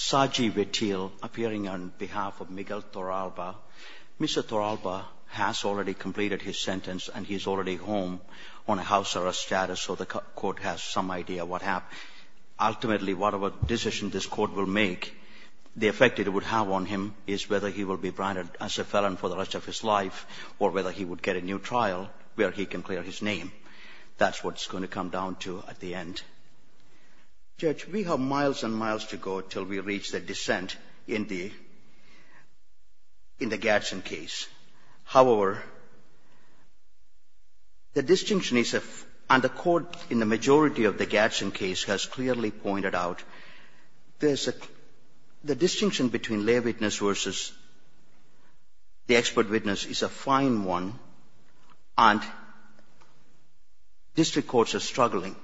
Saji Vettil, appearing on behalf of Miguel Torralba. Mr. Torralba has already completed his sentence and he's already home on a house arrest status, so the court has some idea of what happened. Ultimately, whatever decision this court will make, the effect it would have on him is whether he will be branded as a felon for the rest of his life or whether he would get a new trial where he can clear his name. That's what it's going to come down to at the end. Judge, we have miles and miles to go until we reach the dissent in the Gadsden case. However, the distinction is, and the court in the majority of the Gadsden case has clearly pointed out, the distinction between lay witness versus the expert witness is a fine one and district courts are struggling.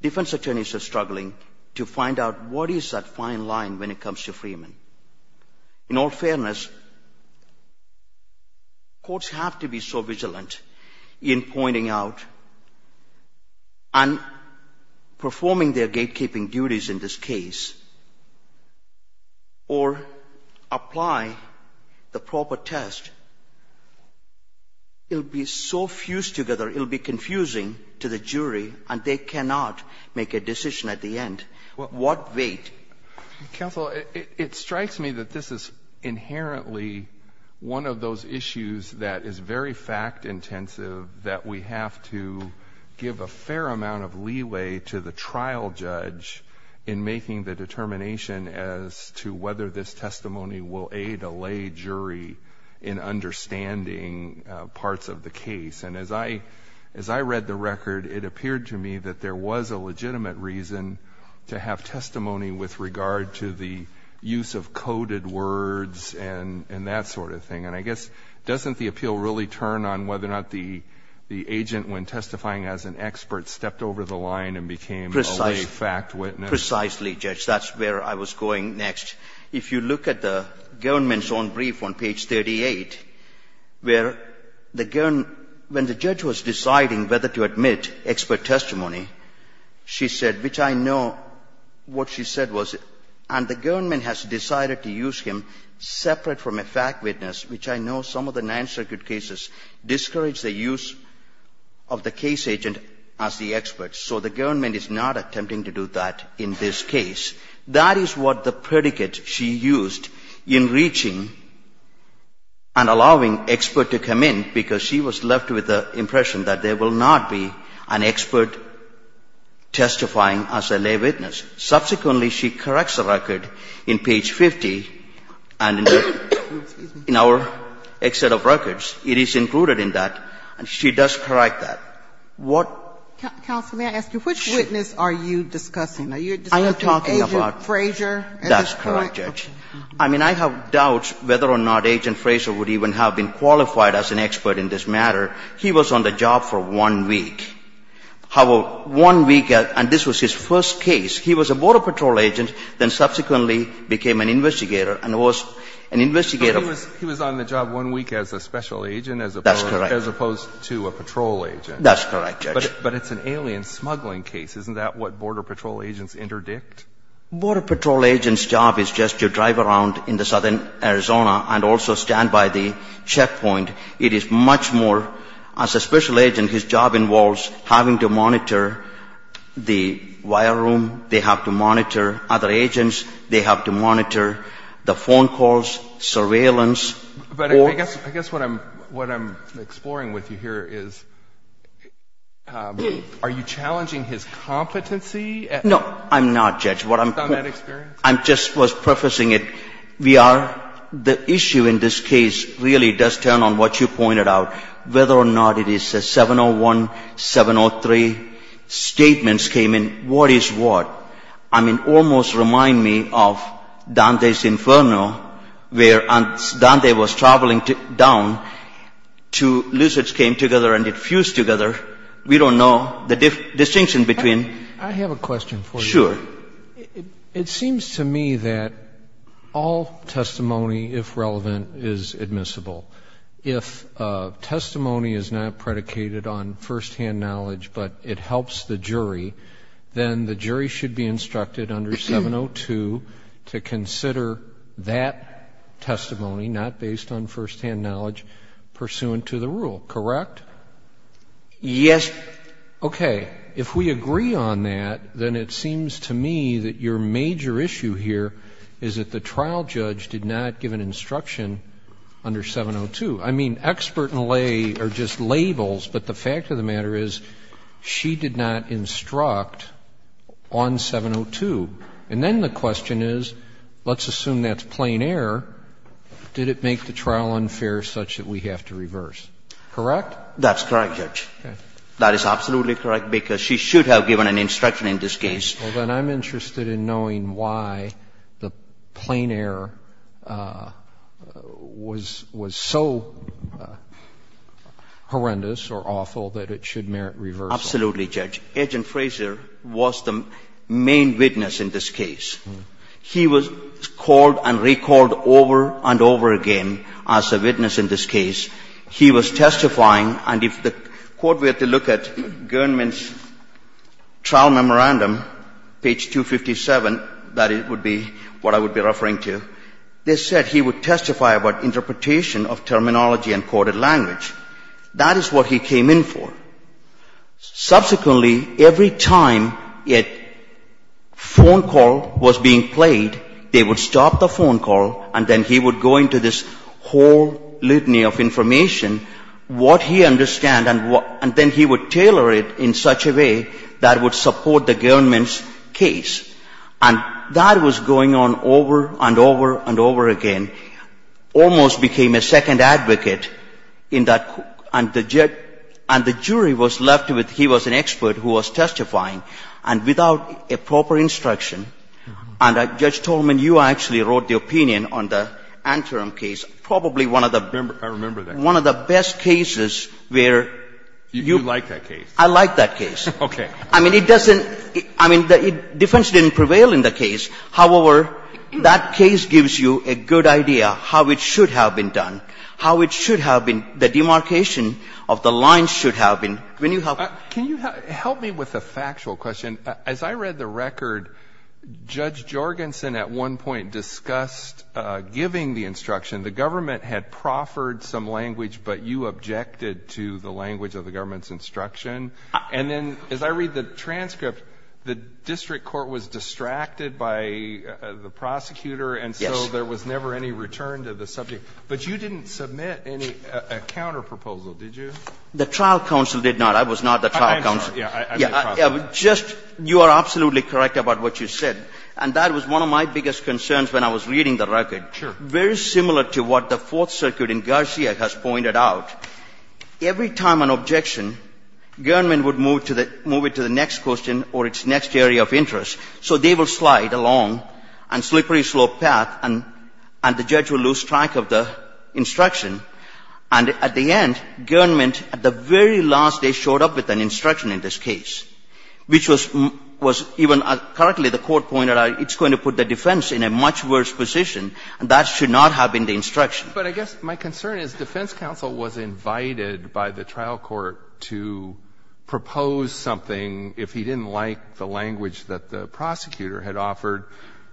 Defense attorneys are struggling to find out what is that fine line when it comes to freemen. In all fairness, courts have to be so vigilant in pointing out and performing their gatekeeping duties in this case or apply the proper test. It will be so fused together, it will be confusing to the jury, and they cannot make a decision at the end. What wait? Counsel, it strikes me that this is inherently one of those issues that is very fact intensive that we have to give a fair amount of leeway to the trial judge in making the determination as to whether this testimony will aid a lay jury in understanding parts of the case. And as I read the record, it appeared to me that there was a legitimate reason to have testimony with regard to the use of coded words and that sort of thing. And I guess doesn't the appeal really turn on whether or not the agent, when testifying as an expert, stepped over the line and became a lay fact witness? Precisely, Judge. That's where I was going next. If you look at the guernman's own brief on page 38, where the guernman, when the judge was deciding whether to admit expert testimony, she said, which I know what she said was, and the guernman has decided to use him separate from a fact witness, which I know some of the Ninth Circuit cases discourage the use of the case agent as the guernman in this case. That is what the predicate she used in reaching and allowing expert to come in, because she was left with the impression that there will not be an expert testifying as a lay witness. Subsequently, she corrects the record in page 50, and in the exit of records, it is included in that, and she does correct that. What? Counsel, may I ask you, which witness are you discussing? Are you discussing Agent Frazier? I am talking about – that's correct, Judge. I mean, I have doubts whether or not Agent Frazier would even have been qualified as an expert in this matter. He was on the job for one week. How will one week – and this was his first case. He was a border patrol agent, then subsequently became an investigator, and was an investigator of – He was on the job one week as a special agent as opposed to a patrol agent. That's correct, Judge. But it's an alien smuggling case. Isn't that what border patrol agents interdict? Border patrol agents' job is just to drive around in southern Arizona and also stand by the checkpoint. It is much more – as a special agent, his job involves having to monitor the wire room. They have to monitor other agents. They have to monitor the phone calls, surveillance. But I guess what I'm exploring with you here is, are you challenging his competency? No, I'm not, Judge. Based on that experience? I just was prefacing it. We are – the issue in this case really does turn on what you pointed out, whether or not it is a 701, 703 statements came in. What is what? I mean, almost remind me of Dante's Inferno, where Dante was traveling down, two lizards came together and it fused together. We don't know the distinction between – I have a question for you. Sure. It seems to me that all testimony, if relevant, is admissible. If testimony is not predicated on firsthand knowledge, but it helps the jury, then the jury should be instructed under 702 to consider that testimony, not based on firsthand knowledge, pursuant to the rule, correct? Yes. Okay. If we agree on that, then it seems to me that your major issue here is that the trial judge did not give an instruction under 702. I mean, expert and lay are just labels, but the fact of the matter is she did not instruct on 702. And then the question is, let's assume that's plain error. Did it make the trial unfair such that we have to reverse? Correct? That's correct, Judge. Okay. That is absolutely correct because she should have given an instruction in this case. Well, then I'm interested in knowing why the plain error was so horrendous or awful that it should merit reversal. Absolutely, Judge. Agent Fraser was the main witness in this case. He was called and recalled over and over again as a witness in this case. He was testifying, and if the Court were to look at Gernman's trial memorandum, page 257, that would be what I would be referring to. They said he would testify about interpretation of terminology and coded language. That is what he came in for. Subsequently, every time a phone call was being played, they would stop the phone call and then he would go into this whole litany of information, what he understood, and then he would tailor it in such a way that would support the Gernman's case. And that was going on over and over and over again, almost became a second advocate in that court, and the jury was left with he was an expert who was testifying, and without a proper instruction. And, Judge Tolman, you actually wrote the opinion on the Anterim case, probably one of the best cases where you. I remember that. You like that case. I like that case. Okay. I mean, it doesn't, I mean, defense didn't prevail in the case. However, that case gives you a good idea how it should have been done, how it should have been, the demarcation of the lines should have been. Can you help me with a factual question? As I read the record, Judge Jorgensen at one point discussed giving the instruction. The government had proffered some language, but you objected to the language of the government's instruction. And then as I read the transcript, the district court was distracted by the prosecutor and so there was never any return to the subject. But you didn't submit any counterproposal, did you? The trial counsel did not. I was not the trial counsel. I was the trial counsel. You are absolutely correct about what you said. And that was one of my biggest concerns when I was reading the record. Sure. Very similar to what the Fourth Circuit in Garcia has pointed out. Every time an objection, Guernman would move it to the next question or its next area of interest. So they will slide along a slippery slope path and the judge will lose track of the instruction. And at the end, Guernman at the very last day showed up with an instruction in this case, which was even correctly the court pointed out, it's going to put the defense in a much worse position and that should not have been the instruction. But I guess my concern is defense counsel was invited by the trial court to propose something if he didn't like the language that the prosecutor had offered,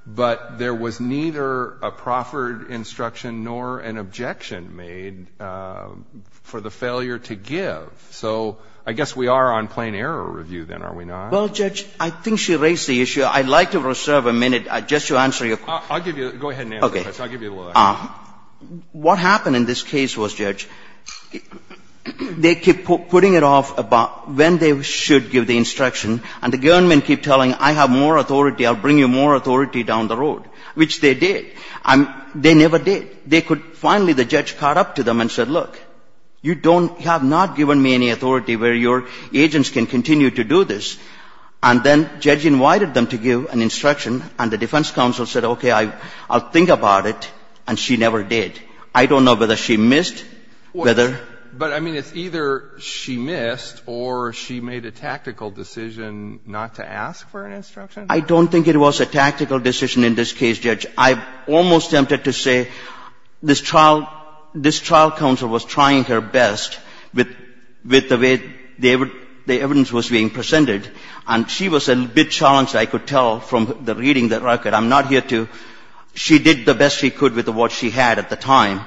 but there was neither a proffered instruction nor an objection made for the failure to give. So I guess we are on plain error review then, are we not? Well, Judge, I think she raised the issue. I'd like to reserve a minute just to answer your question. I'll give you a minute. Go ahead and answer, Judge. I'll give you a little extra time. What happened in this case was, Judge, they keep putting it off about when they should give the instruction and the Guernman keep telling, I have more authority, I'll bring you more authority down the road, which they did. They never did. They could finally, the judge caught up to them and said, look, you don't have not given me any authority where your agents can continue to do this. And then Judge invited them to give an instruction and the defense counsel said, okay, I'll think about it, and she never did. I don't know whether she missed, whether. But, I mean, it's either she missed or she made a tactical decision not to ask for an instruction? I don't think it was a tactical decision in this case, Judge. I'm almost tempted to say this trial, this trial counsel was trying her best with the way the evidence was being presented, and she was a bit challenged, I could tell from reading the record. I'm not here to, she did the best she could with what she had at the time.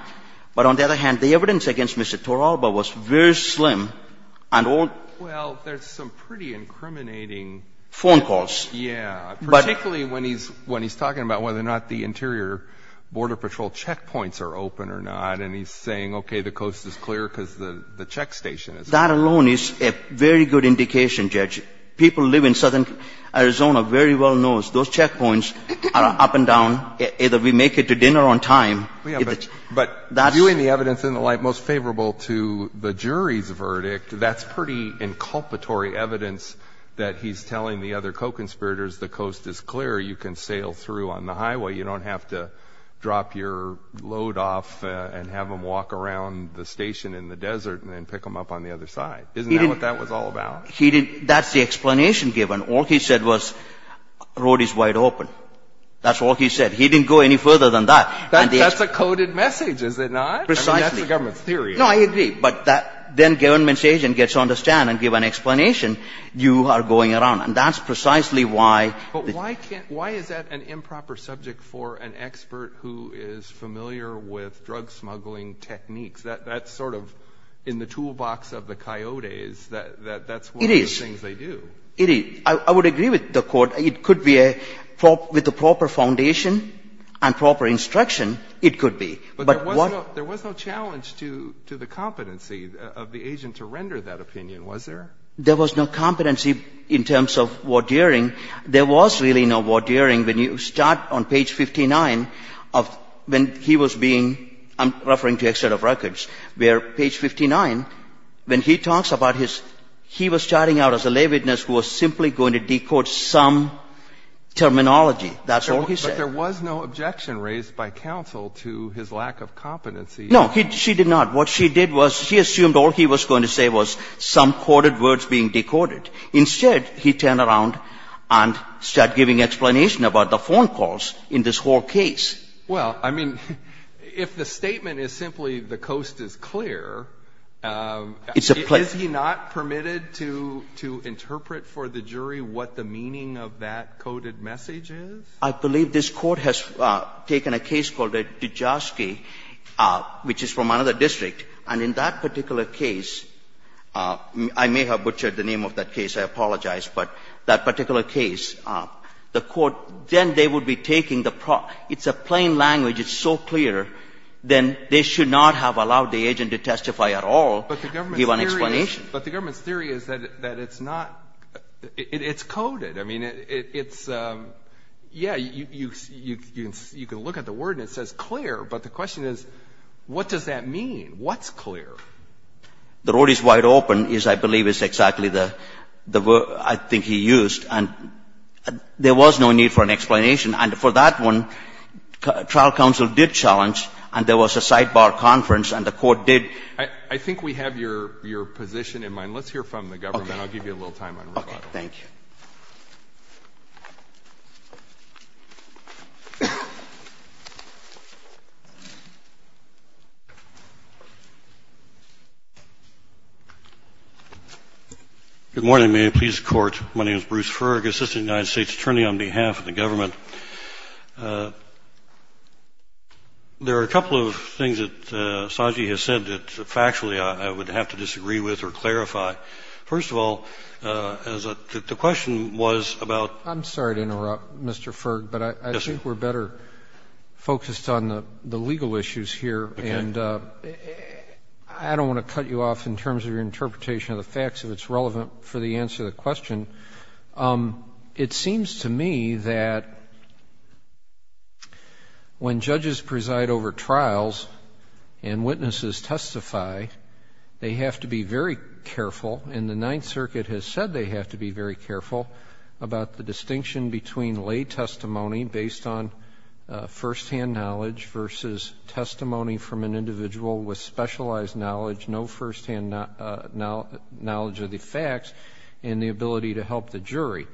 But on the other hand, the evidence against Mr. Toralba was very slim and old. Well, there's some pretty incriminating. Phone calls. Yeah. Particularly when he's talking about whether or not the Interior Border Patrol checkpoints are open or not, and he's saying, okay, the coast is clear because the check station is open. That alone is a very good indication, Judge. People who live in southern Arizona very well know those checkpoints are up and down. Either we make it to dinner on time. But viewing the evidence in the light most favorable to the jury's verdict, that's pretty inculpatory evidence that he's telling the other co-conspirators the coast is clear, you can sail through on the highway, you don't have to drop your load off and have them walk around the station in the desert and then pick them up on the other side. Isn't that what that was all about? He didn't. That's the explanation given. All he said was road is wide open. That's all he said. He didn't go any further than that. That's a coded message, is it not? Precisely. I mean, that's the government's theory. No, I agree. But that then government's agent gets to understand and give an explanation, you are going around. And that's precisely why. But why can't why is that an improper subject for an expert who is familiar with drug smuggling techniques? That's sort of in the toolbox of the coyotes. That's one of the things they do. It is. I would agree with the Court. It could be a proper foundation and proper instruction. It could be. But there was no challenge to the competency of the agent to render that opinion, was there? There was no competency in terms of wardeering. There was really no wardeering. When you start on page 59 of when he was being, I'm referring to external records, where page 59, when he talks about his, he was starting out as a lay witness who was simply going to decode some terminology. That's all he said. There was no objection raised by counsel to his lack of competency. No, she did not. What she did was she assumed all he was going to say was some coded words being decoded. Instead, he turned around and started giving explanation about the phone calls in this whole case. Well, I mean, if the statement is simply the coast is clear, is he not permitted to interpret for the jury what the meaning of that coded message is? I believe this Court has taken a case called Dijovsky, which is from another district. And in that particular case, I may have butchered the name of that case. I apologize. But that particular case, the Court, then they would be taking the proxy. It's a plain language. It's so clear. Then they should not have allowed the agent to testify at all, give an explanation. But the government's theory is that it's not, it's coded. I mean, it's, yeah, you can look at the word and it says clear. But the question is, what does that mean? What's clear? The road is wide open is, I believe, is exactly the word I think he used. And there was no need for an explanation. And for that one, trial counsel did challenge, and there was a sidebar conference, and the Court did. I think we have your position in mind. Let's hear from the government. Okay. I'll give you a little time on rebuttal. Thank you. Good morning. May it please the Court. My name is Bruce Ferg, Assistant United States Attorney on behalf of the government. There are a couple of things that Saji has said that factually I would have to disagree with or clarify. First of all, the question was about ---- I'm sorry to interrupt, Mr. Ferg. But I think we're better focused on the legal issues here. Okay. And I don't want to cut you off in terms of your interpretation of the facts if it's relevant for the answer to the question. It seems to me that when judges preside over trials and witnesses testify, they have to be very careful, and the Ninth Circuit has said they have to be very careful, about the distinction between lay testimony based on firsthand knowledge versus testimony from an individual with specialized knowledge, no firsthand knowledge of the facts, and the ability to help the jury.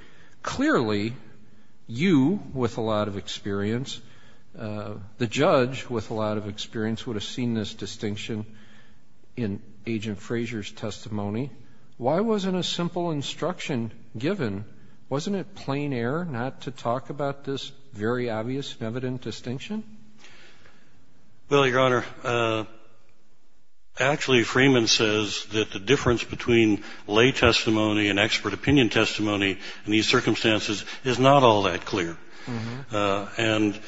Clearly, you with a lot of experience, the judge with a lot of experience, would have seen this distinction in Agent Frazier's testimony. Why wasn't a simple instruction given, wasn't it plain error not to talk about this very obvious and evident distinction? Well, Your Honor, actually, Freeman says that the difference between lay testimony and expert opinion testimony in these circumstances is not all that clear. And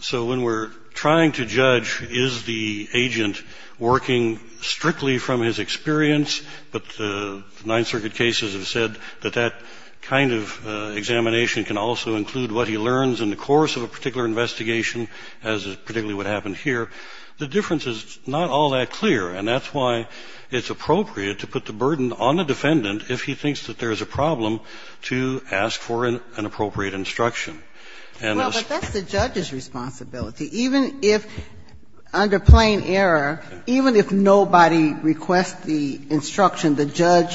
so when we're trying to judge is the agent working strictly from his experience, but the Ninth Circuit cases have said that that kind of examination can also include what he learns in the course of a particular investigation, as is particularly what happened here. The difference is not all that clear, and that's why it's appropriate to put the burden on the defendant if he thinks that there's a problem to ask for an appropriate instruction. Well, but that's the judge's responsibility. Even if, under plain error, even if nobody requests the instruction, the judge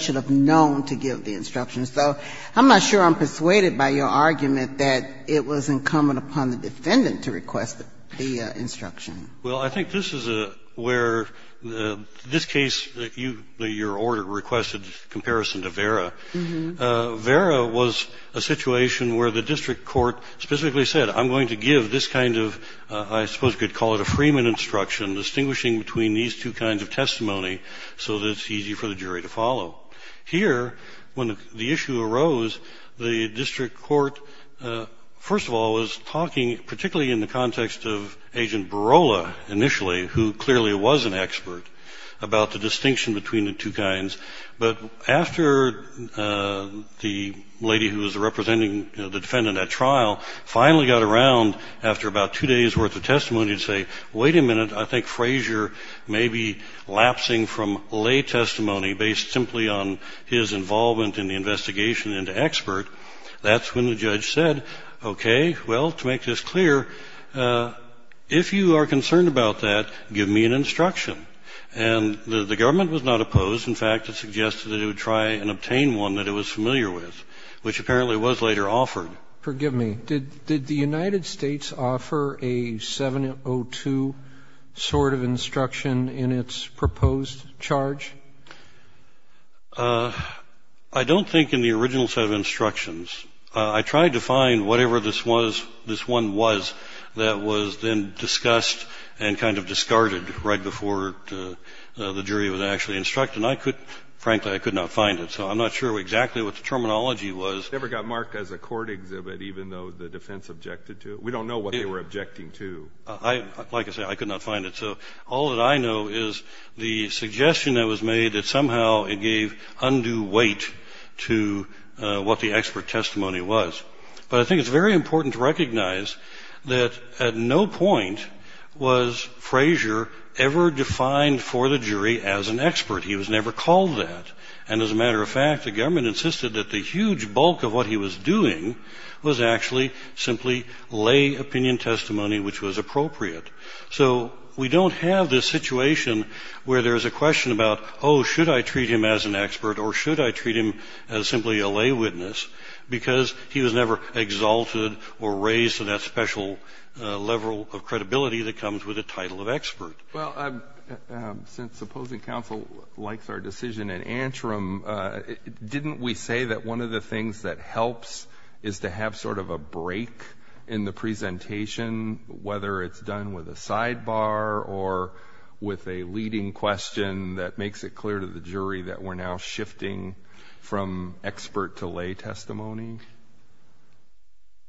should have known to give the instruction. So I'm not sure I'm persuaded by your argument that it was incumbent upon the defendant to request the instruction. Well, I think this is where this case that you, your order requested in comparison to Vera, Vera was a situation where the district court specifically said, I'm going to give this kind of, I suppose you could call it a Freeman instruction, distinguishing between these two kinds of testimony so that it's easy for the jury to follow. Here, when the issue arose, the district court, first of all, was talking, particularly in the context of Agent Barola initially, who clearly was an expert about the distinction between the two kinds. But after the lady who was representing the defendant at trial finally got around, after about two days' worth of testimony, to say, wait a minute, I think Frazier may be lapsing from lay testimony based simply on his involvement in the investigation into expert, that's when the judge said, okay, well, to make this clear, if you are concerned about that, give me an instruction. And the government was not opposed. In fact, it suggested that it would try and obtain one that it was familiar with, which apparently was later offered. Robertson, forgive me, did the United States offer a 702 sort of instruction in its proposed charge? I don't think in the original set of instructions. I tried to find whatever this was, this one was, that was then discussed and kind of discarded right before the jury was actually instructed. And I could, frankly, I could not find it. So I'm not sure exactly what the terminology was. It never got marked as a court exhibit, even though the defense objected to it. We don't know what they were objecting to. Like I said, I could not find it. So all that I know is the suggestion that was made that somehow it gave undue weight to what the expert testimony was. But I think it's very important to recognize that at no point was Frazier ever defined for the jury as an expert. He was never called that. And as a matter of fact, the government insisted that the huge bulk of what he was doing was actually simply lay opinion testimony, which was appropriate. So we don't have this situation where there's a question about, oh, should I treat him as an expert or should I treat him as simply a lay witness, because he was never exalted or raised to that special level of credibility that comes with a title of expert. Well, since opposing counsel likes our decision in Antrim, didn't we say that one of the things that helps is to have sort of a break in the presentation, whether it's done with a sidebar or with a leading question that makes it clear to the jury that we're now shifting from expert to lay testimony?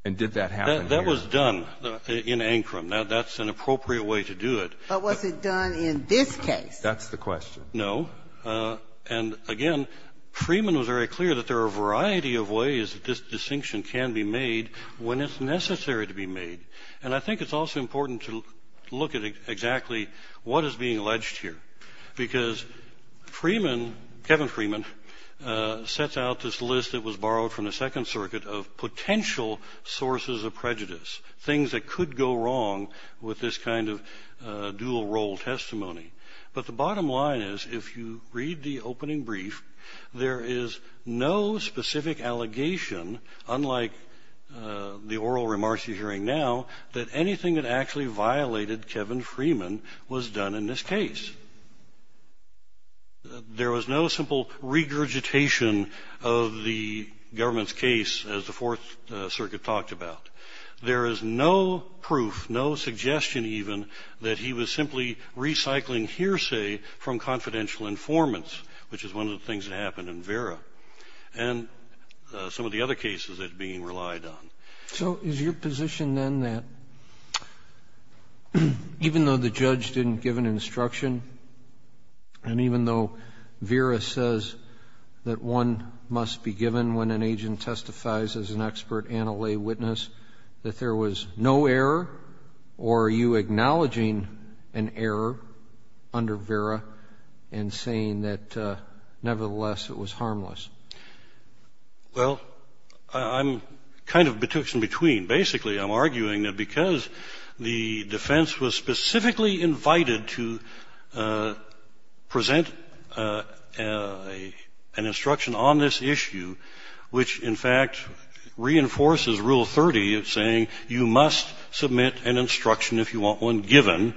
And did that happen here? That was done in Antrim. That's an appropriate way to do it. But was it done in this case? That's the question. No. And, again, Freeman was very clear that there are a variety of ways that this distinction can be made when it's necessary to be made. And I think it's also important to look at exactly what is being alleged here, because Freeman, Kevin Freeman, sets out this list that was borrowed from the Second Circuit of potential sources of prejudice, things that could go wrong with this kind of dual-role testimony. But the bottom line is, if you read the opening brief, there is no specific allegation, unlike the oral remarks you're hearing now, that anything that actually violated Kevin Freeman was done in this case. There was no simple regurgitation of the government's case, as the Fourth Circuit talked about. There is no proof, no suggestion even, that he was simply recycling hearsay from confidential informants, which is one of the things that happened in Vera and some of the other cases that are being relied on. So is your position, then, that even though the judge didn't give an instruction and even though Vera says that one must be given when an agent testifies as an expert and a lay witness, that there was no error, or are you acknowledging an error under Vera and saying that, nevertheless, it was harmless? Well, I'm kind of betwixt and between. Basically, I'm arguing that because the defense was specifically invited to present an instruction on this issue, which, in fact, reinforces Rule 30, saying you must submit an instruction if you want one given,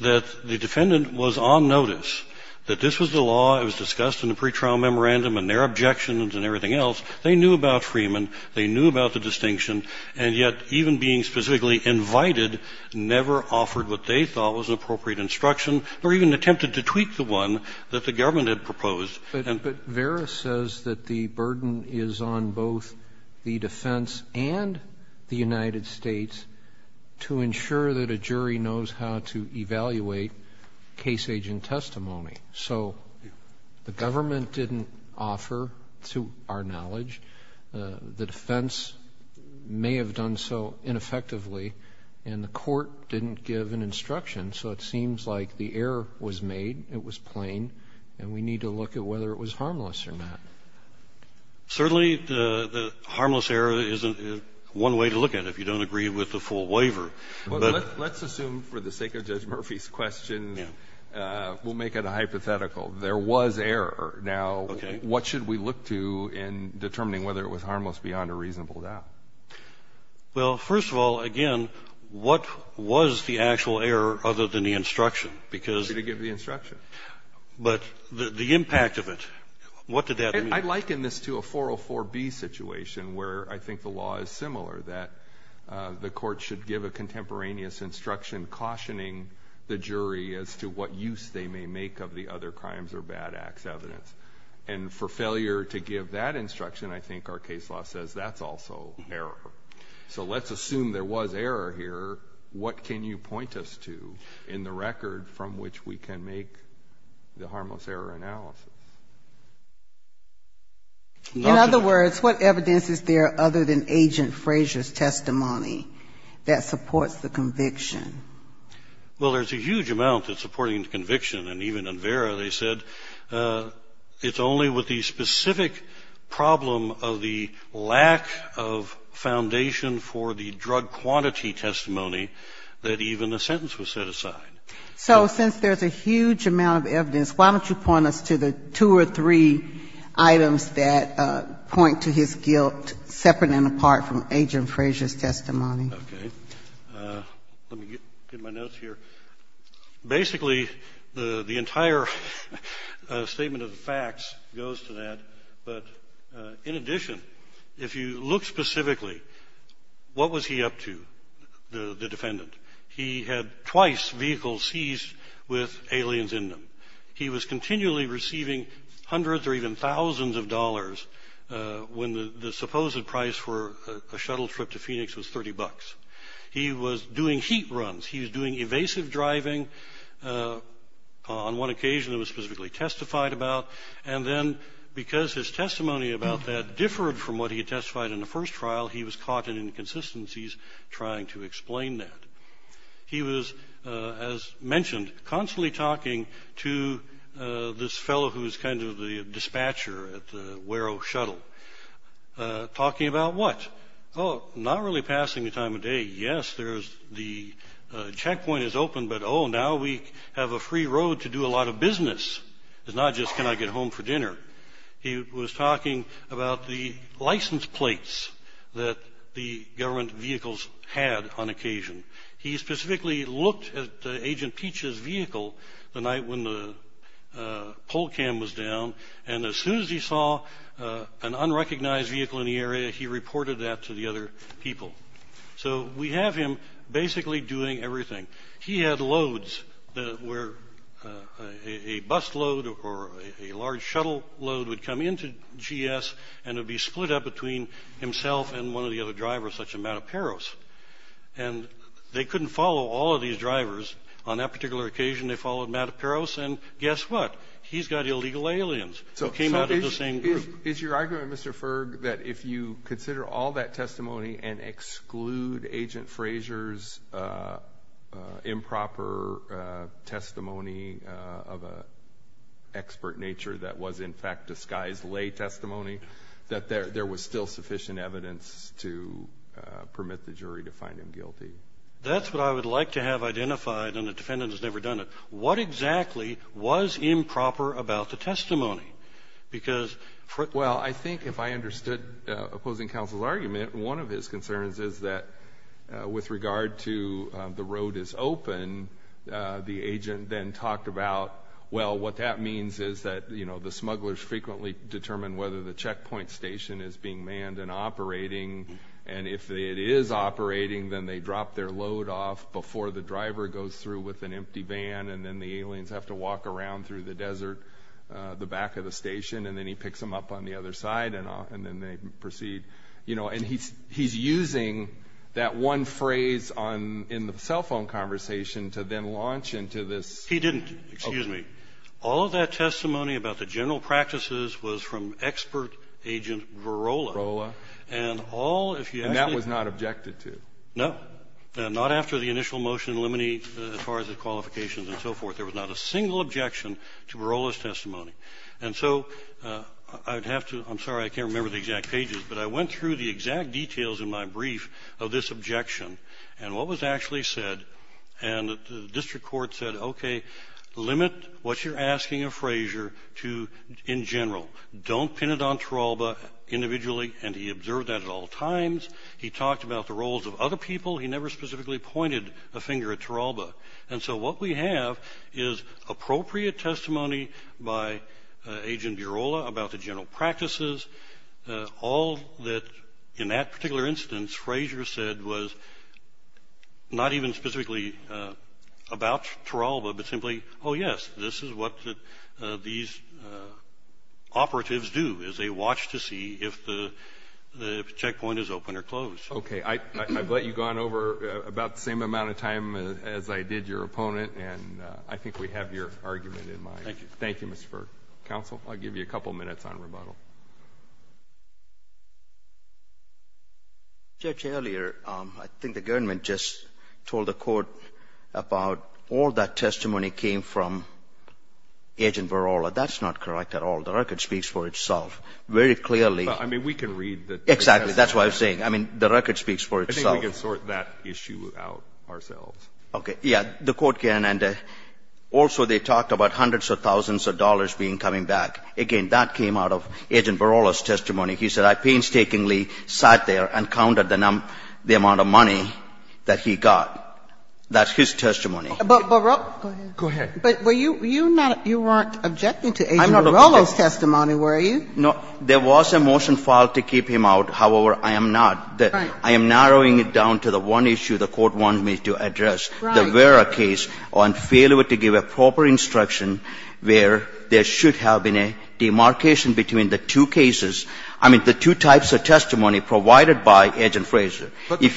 that the defendant was on notice that this was a law. It was discussed in the pretrial memorandum and their objections and everything else. They knew about Freeman. They knew about the distinction. And yet even being specifically invited never offered what they thought was appropriate instruction or even attempted to tweak the one that the government had proposed. But Vera says that the burden is on both the defense and the United States to ensure that a jury knows how to evaluate case agent testimony. So the government didn't offer, to our knowledge, the defense may have done so ineffectively, and the court didn't give an instruction. So it seems like the error was made, it was plain, and we need to look at whether it was harmless or not. Certainly, the harmless error is one way to look at it if you don't agree with the full waiver. Well, let's assume for the sake of Judge Murphy's question, we'll make it a hypothetical. There was error. Now, what should we look to in determining whether it was harmless beyond a reasonable doubt? Well, first of all, again, what was the actual error other than the instruction? Because the impact of it, what did that mean? I liken this to a 404B situation where I think the law is similar, that the court should give a contemporaneous instruction cautioning the jury as to what use they may make of the other crimes or bad acts evidence. And for failure to give that instruction, I think our case law says that's also error. So let's assume there was error here. What can you point us to in the record from which we can make the harmless error analysis? In other words, what evidence is there other than Agent Frazier's testimony that supports the conviction? Well, there's a huge amount that's supporting the conviction. And even in Vera, they said it's only with the specific problem of the lack of foundation for the drug quantity testimony that even the sentence was set aside. So since there's a huge amount of evidence, why don't you point us to the two or three items that point to his guilt separate and apart from Agent Frazier's testimony? Okay. Let me get my notes here. Basically, the entire statement of the facts goes to that. But in addition, if you look specifically, what was he up to, the defendant? He had twice vehicles seized with aliens in them. He was continually receiving hundreds or even thousands of dollars when the supposed price for a shuttle trip to Phoenix was $30. He was doing heat runs. He was doing evasive driving. On one occasion, it was specifically testified about. And then because his testimony about that differed from what he testified in the first trial, he was caught in inconsistencies trying to explain that. He was, as mentioned, constantly talking to this fellow who was kind of the dispatcher at the Wero Shuttle, talking about what? Oh, not really passing the time of day. Yes, the checkpoint is open, but, oh, now we have a free road to do a lot of business. It's not just can I get home for dinner. He was talking about the license plates that the government vehicles had on occasion. He specifically looked at Agent Peach's vehicle the night when the pole cam was down, and as soon as he saw an unrecognized vehicle in the area, he reported that to the other people. So we have him basically doing everything. He had loads where a bus load or a large shuttle load would come into GS and it would be split up between himself and one of the other drivers, such as Matt Aperos. And they couldn't follow all of these drivers. On that particular occasion, they followed Matt Aperos, and guess what? He's got illegal aliens who came out of the same group. Is your argument, Mr. Ferg, that if you consider all that testimony and exclude Agent Frazier's improper testimony of an expert nature that was in fact disguised lay testimony, that there was still sufficient evidence to permit the jury to find him guilty? That's what I would like to have identified, and the defendant has never done it. What exactly was improper about the testimony? Well, I think if I understood opposing counsel's argument, one of his concerns is that with regard to the road is open, the agent then talked about, well, what that means is that, you know, the smugglers frequently determine whether the checkpoint station is being manned and operating, and if it is operating, then they drop their load off before the driver goes through with an empty van and then the aliens have to walk around through the desert, the back of the station, and then he picks them up on the other side, and then they proceed. You know, and he's using that one phrase in the cell phone conversation to then launch into this. He didn't. Excuse me. All of that testimony about the general practices was from expert Agent Varola. Varola. And all, if you ask me. And that was not objected to. No. Not after the initial motion in limine as far as the qualifications and so forth. There was not a single objection to Varola's testimony. And so I would have to – I'm sorry, I can't remember the exact pages, but I went through the exact details in my brief of this objection and what was actually said, and the district court said, okay, limit what you're asking of Frazier to in general. Don't pin it on Taralba individually, and he observed that at all times. He talked about the roles of other people. He never specifically pointed a finger at Taralba. And so what we have is appropriate testimony by Agent Varola about the general practices. All that in that particular instance Frazier said was not even specifically about Taralba, but simply, oh, yes, this is what these operatives do is they watch to see if the checkpoint is open or closed. Okay. I've let you go on over about the same amount of time as I did your opponent, and I think we have your argument in mind. Thank you. Thank you, Mr. Ferg. Counsel, I'll give you a couple minutes on rebuttal. Judge, earlier I think the government just told the court about all that testimony came from Agent Varola. That's not correct at all. The record speaks for itself very clearly. I mean, we can read the testimony. Exactly. That's what I was saying. I mean, the record speaks for itself. I think we can sort that issue out ourselves. Okay. Yeah, the court can, and also they talked about hundreds of thousands of dollars being coming back. Again, that came out of Agent Varola's testimony. He said, I painstakingly sat there and counted the amount of money that he got. That's his testimony. Go ahead. But you weren't objecting to Agent Varola's testimony, were you? No. There was a motion filed to keep him out. However, I am not. I am narrowing it down to the one issue the court wants me to address, the Vera case on failure to give a proper instruction where there should have been a demarcation between the two cases, I mean, the two types of testimony provided by Agent Frazier. But the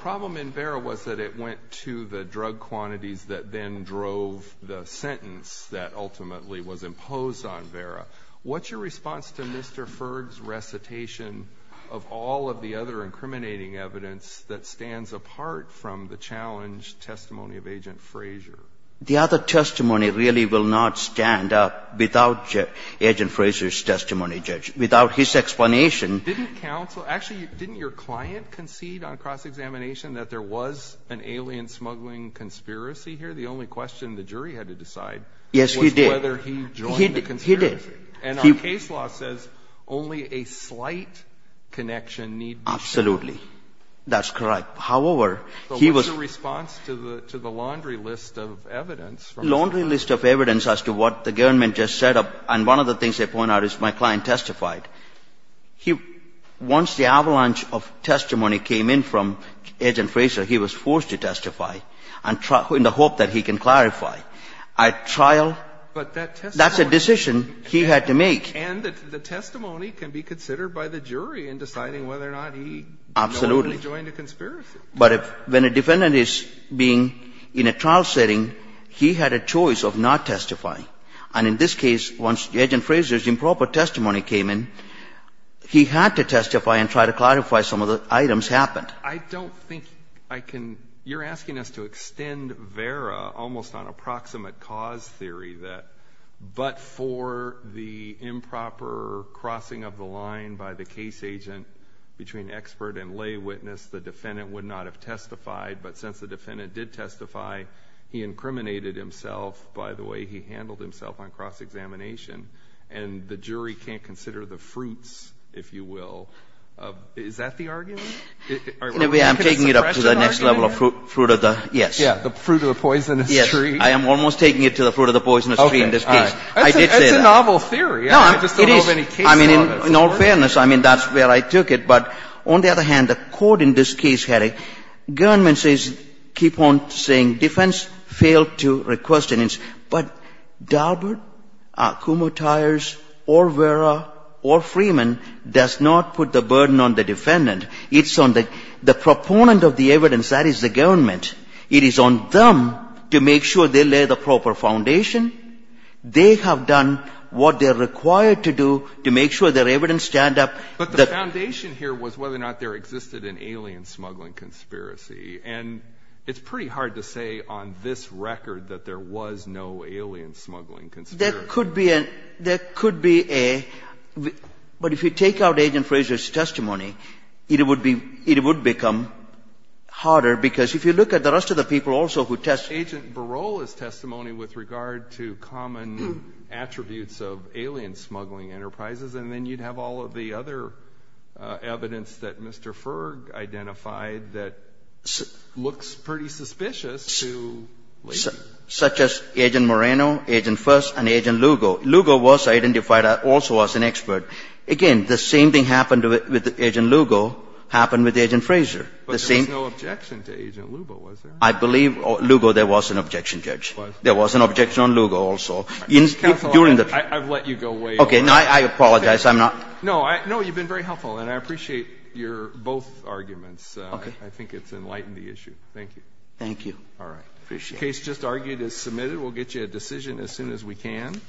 problem in Vera was that it went to the drug quantities that then drove the sentence that ultimately was imposed on Vera. What's your response to Mr. Ferg's recitation of all of the other incriminating evidence that stands apart from the challenged testimony of Agent Frazier? The other testimony really will not stand up without Agent Frazier's testimony, Judge, without his explanation. Didn't counsel, actually, didn't your client concede on cross-examination that there was an alien smuggling conspiracy here? The only question the jury had to decide was whether he joined the conspiracy. Yes, he did. And our case law says only a slight connection need be shown. Absolutely. That's correct. However, he was the response to the laundry list of evidence. Laundry list of evidence as to what the government just set up. And one of the things they point out is my client testified. Once the avalanche of testimony came in from Agent Frazier, he was forced to testify in the hope that he can clarify. At trial, that's a decision he had to make. And the testimony can be considered by the jury in deciding whether or not he joined the conspiracy. Absolutely. But when a defendant is being in a trial setting, he had a choice of not testifying. And in this case, once Agent Frazier's improper testimony came in, he had to testify and try to clarify some of the items happened. I don't think I can. You're asking us to extend VERA almost on approximate cause theory that but for the improper crossing of the line by the case agent between expert and lay witness, the defendant would not have testified. But since the defendant did testify, he incriminated himself by the way he handled himself on cross-examination. And the jury can't consider the fruits, if you will. Is that the argument? In a way, I'm taking it up to the next level of fruit of the, yes. Yeah, the fruit of the poisonous tree. Yes, I am almost taking it to the fruit of the poisonous tree in this case. I did say that. It's a novel theory. No, it is. I mean, in all fairness, I mean, that's where I took it. But on the other hand, the Court in this case had a government says, keep on saying defense failed to request an instance. But Daubert, Kumho-Tyers or VERA or Freeman does not put the burden on the defendant. It's on the proponent of the evidence, that is the government. It is on them to make sure they lay the proper foundation. They have done what they're required to do to make sure their evidence stand up. But the foundation here was whether or not there existed an alien smuggling conspiracy. And it's pretty hard to say on this record that there was no alien smuggling conspiracy. There could be a, there could be a. But if you take out Agent Frazier's testimony, it would be, it would become harder because if you look at the rest of the people also who testified. Agent Barola's testimony with regard to common attributes of alien smuggling enterprises, and then you'd have all of the other evidence that Mr. Ferg identified that looks pretty suspicious to. Such as Agent Moreno, Agent Fuss and Agent Lugo. Lugo was identified also as an expert. Again, the same thing happened with Agent Lugo, happened with Agent Frazier. But there was no objection to Agent Lugo, was there? I believe Lugo, there was an objection, Judge. There was an objection on Lugo also. Counsel, I've let you go way over. Okay, I apologize. I'm not. No, you've been very helpful. And I appreciate your both arguments. Okay. I think it's enlightened the issue. Thank you. Thank you. All right. The case just argued is submitted. We'll get you a decision as soon as we can.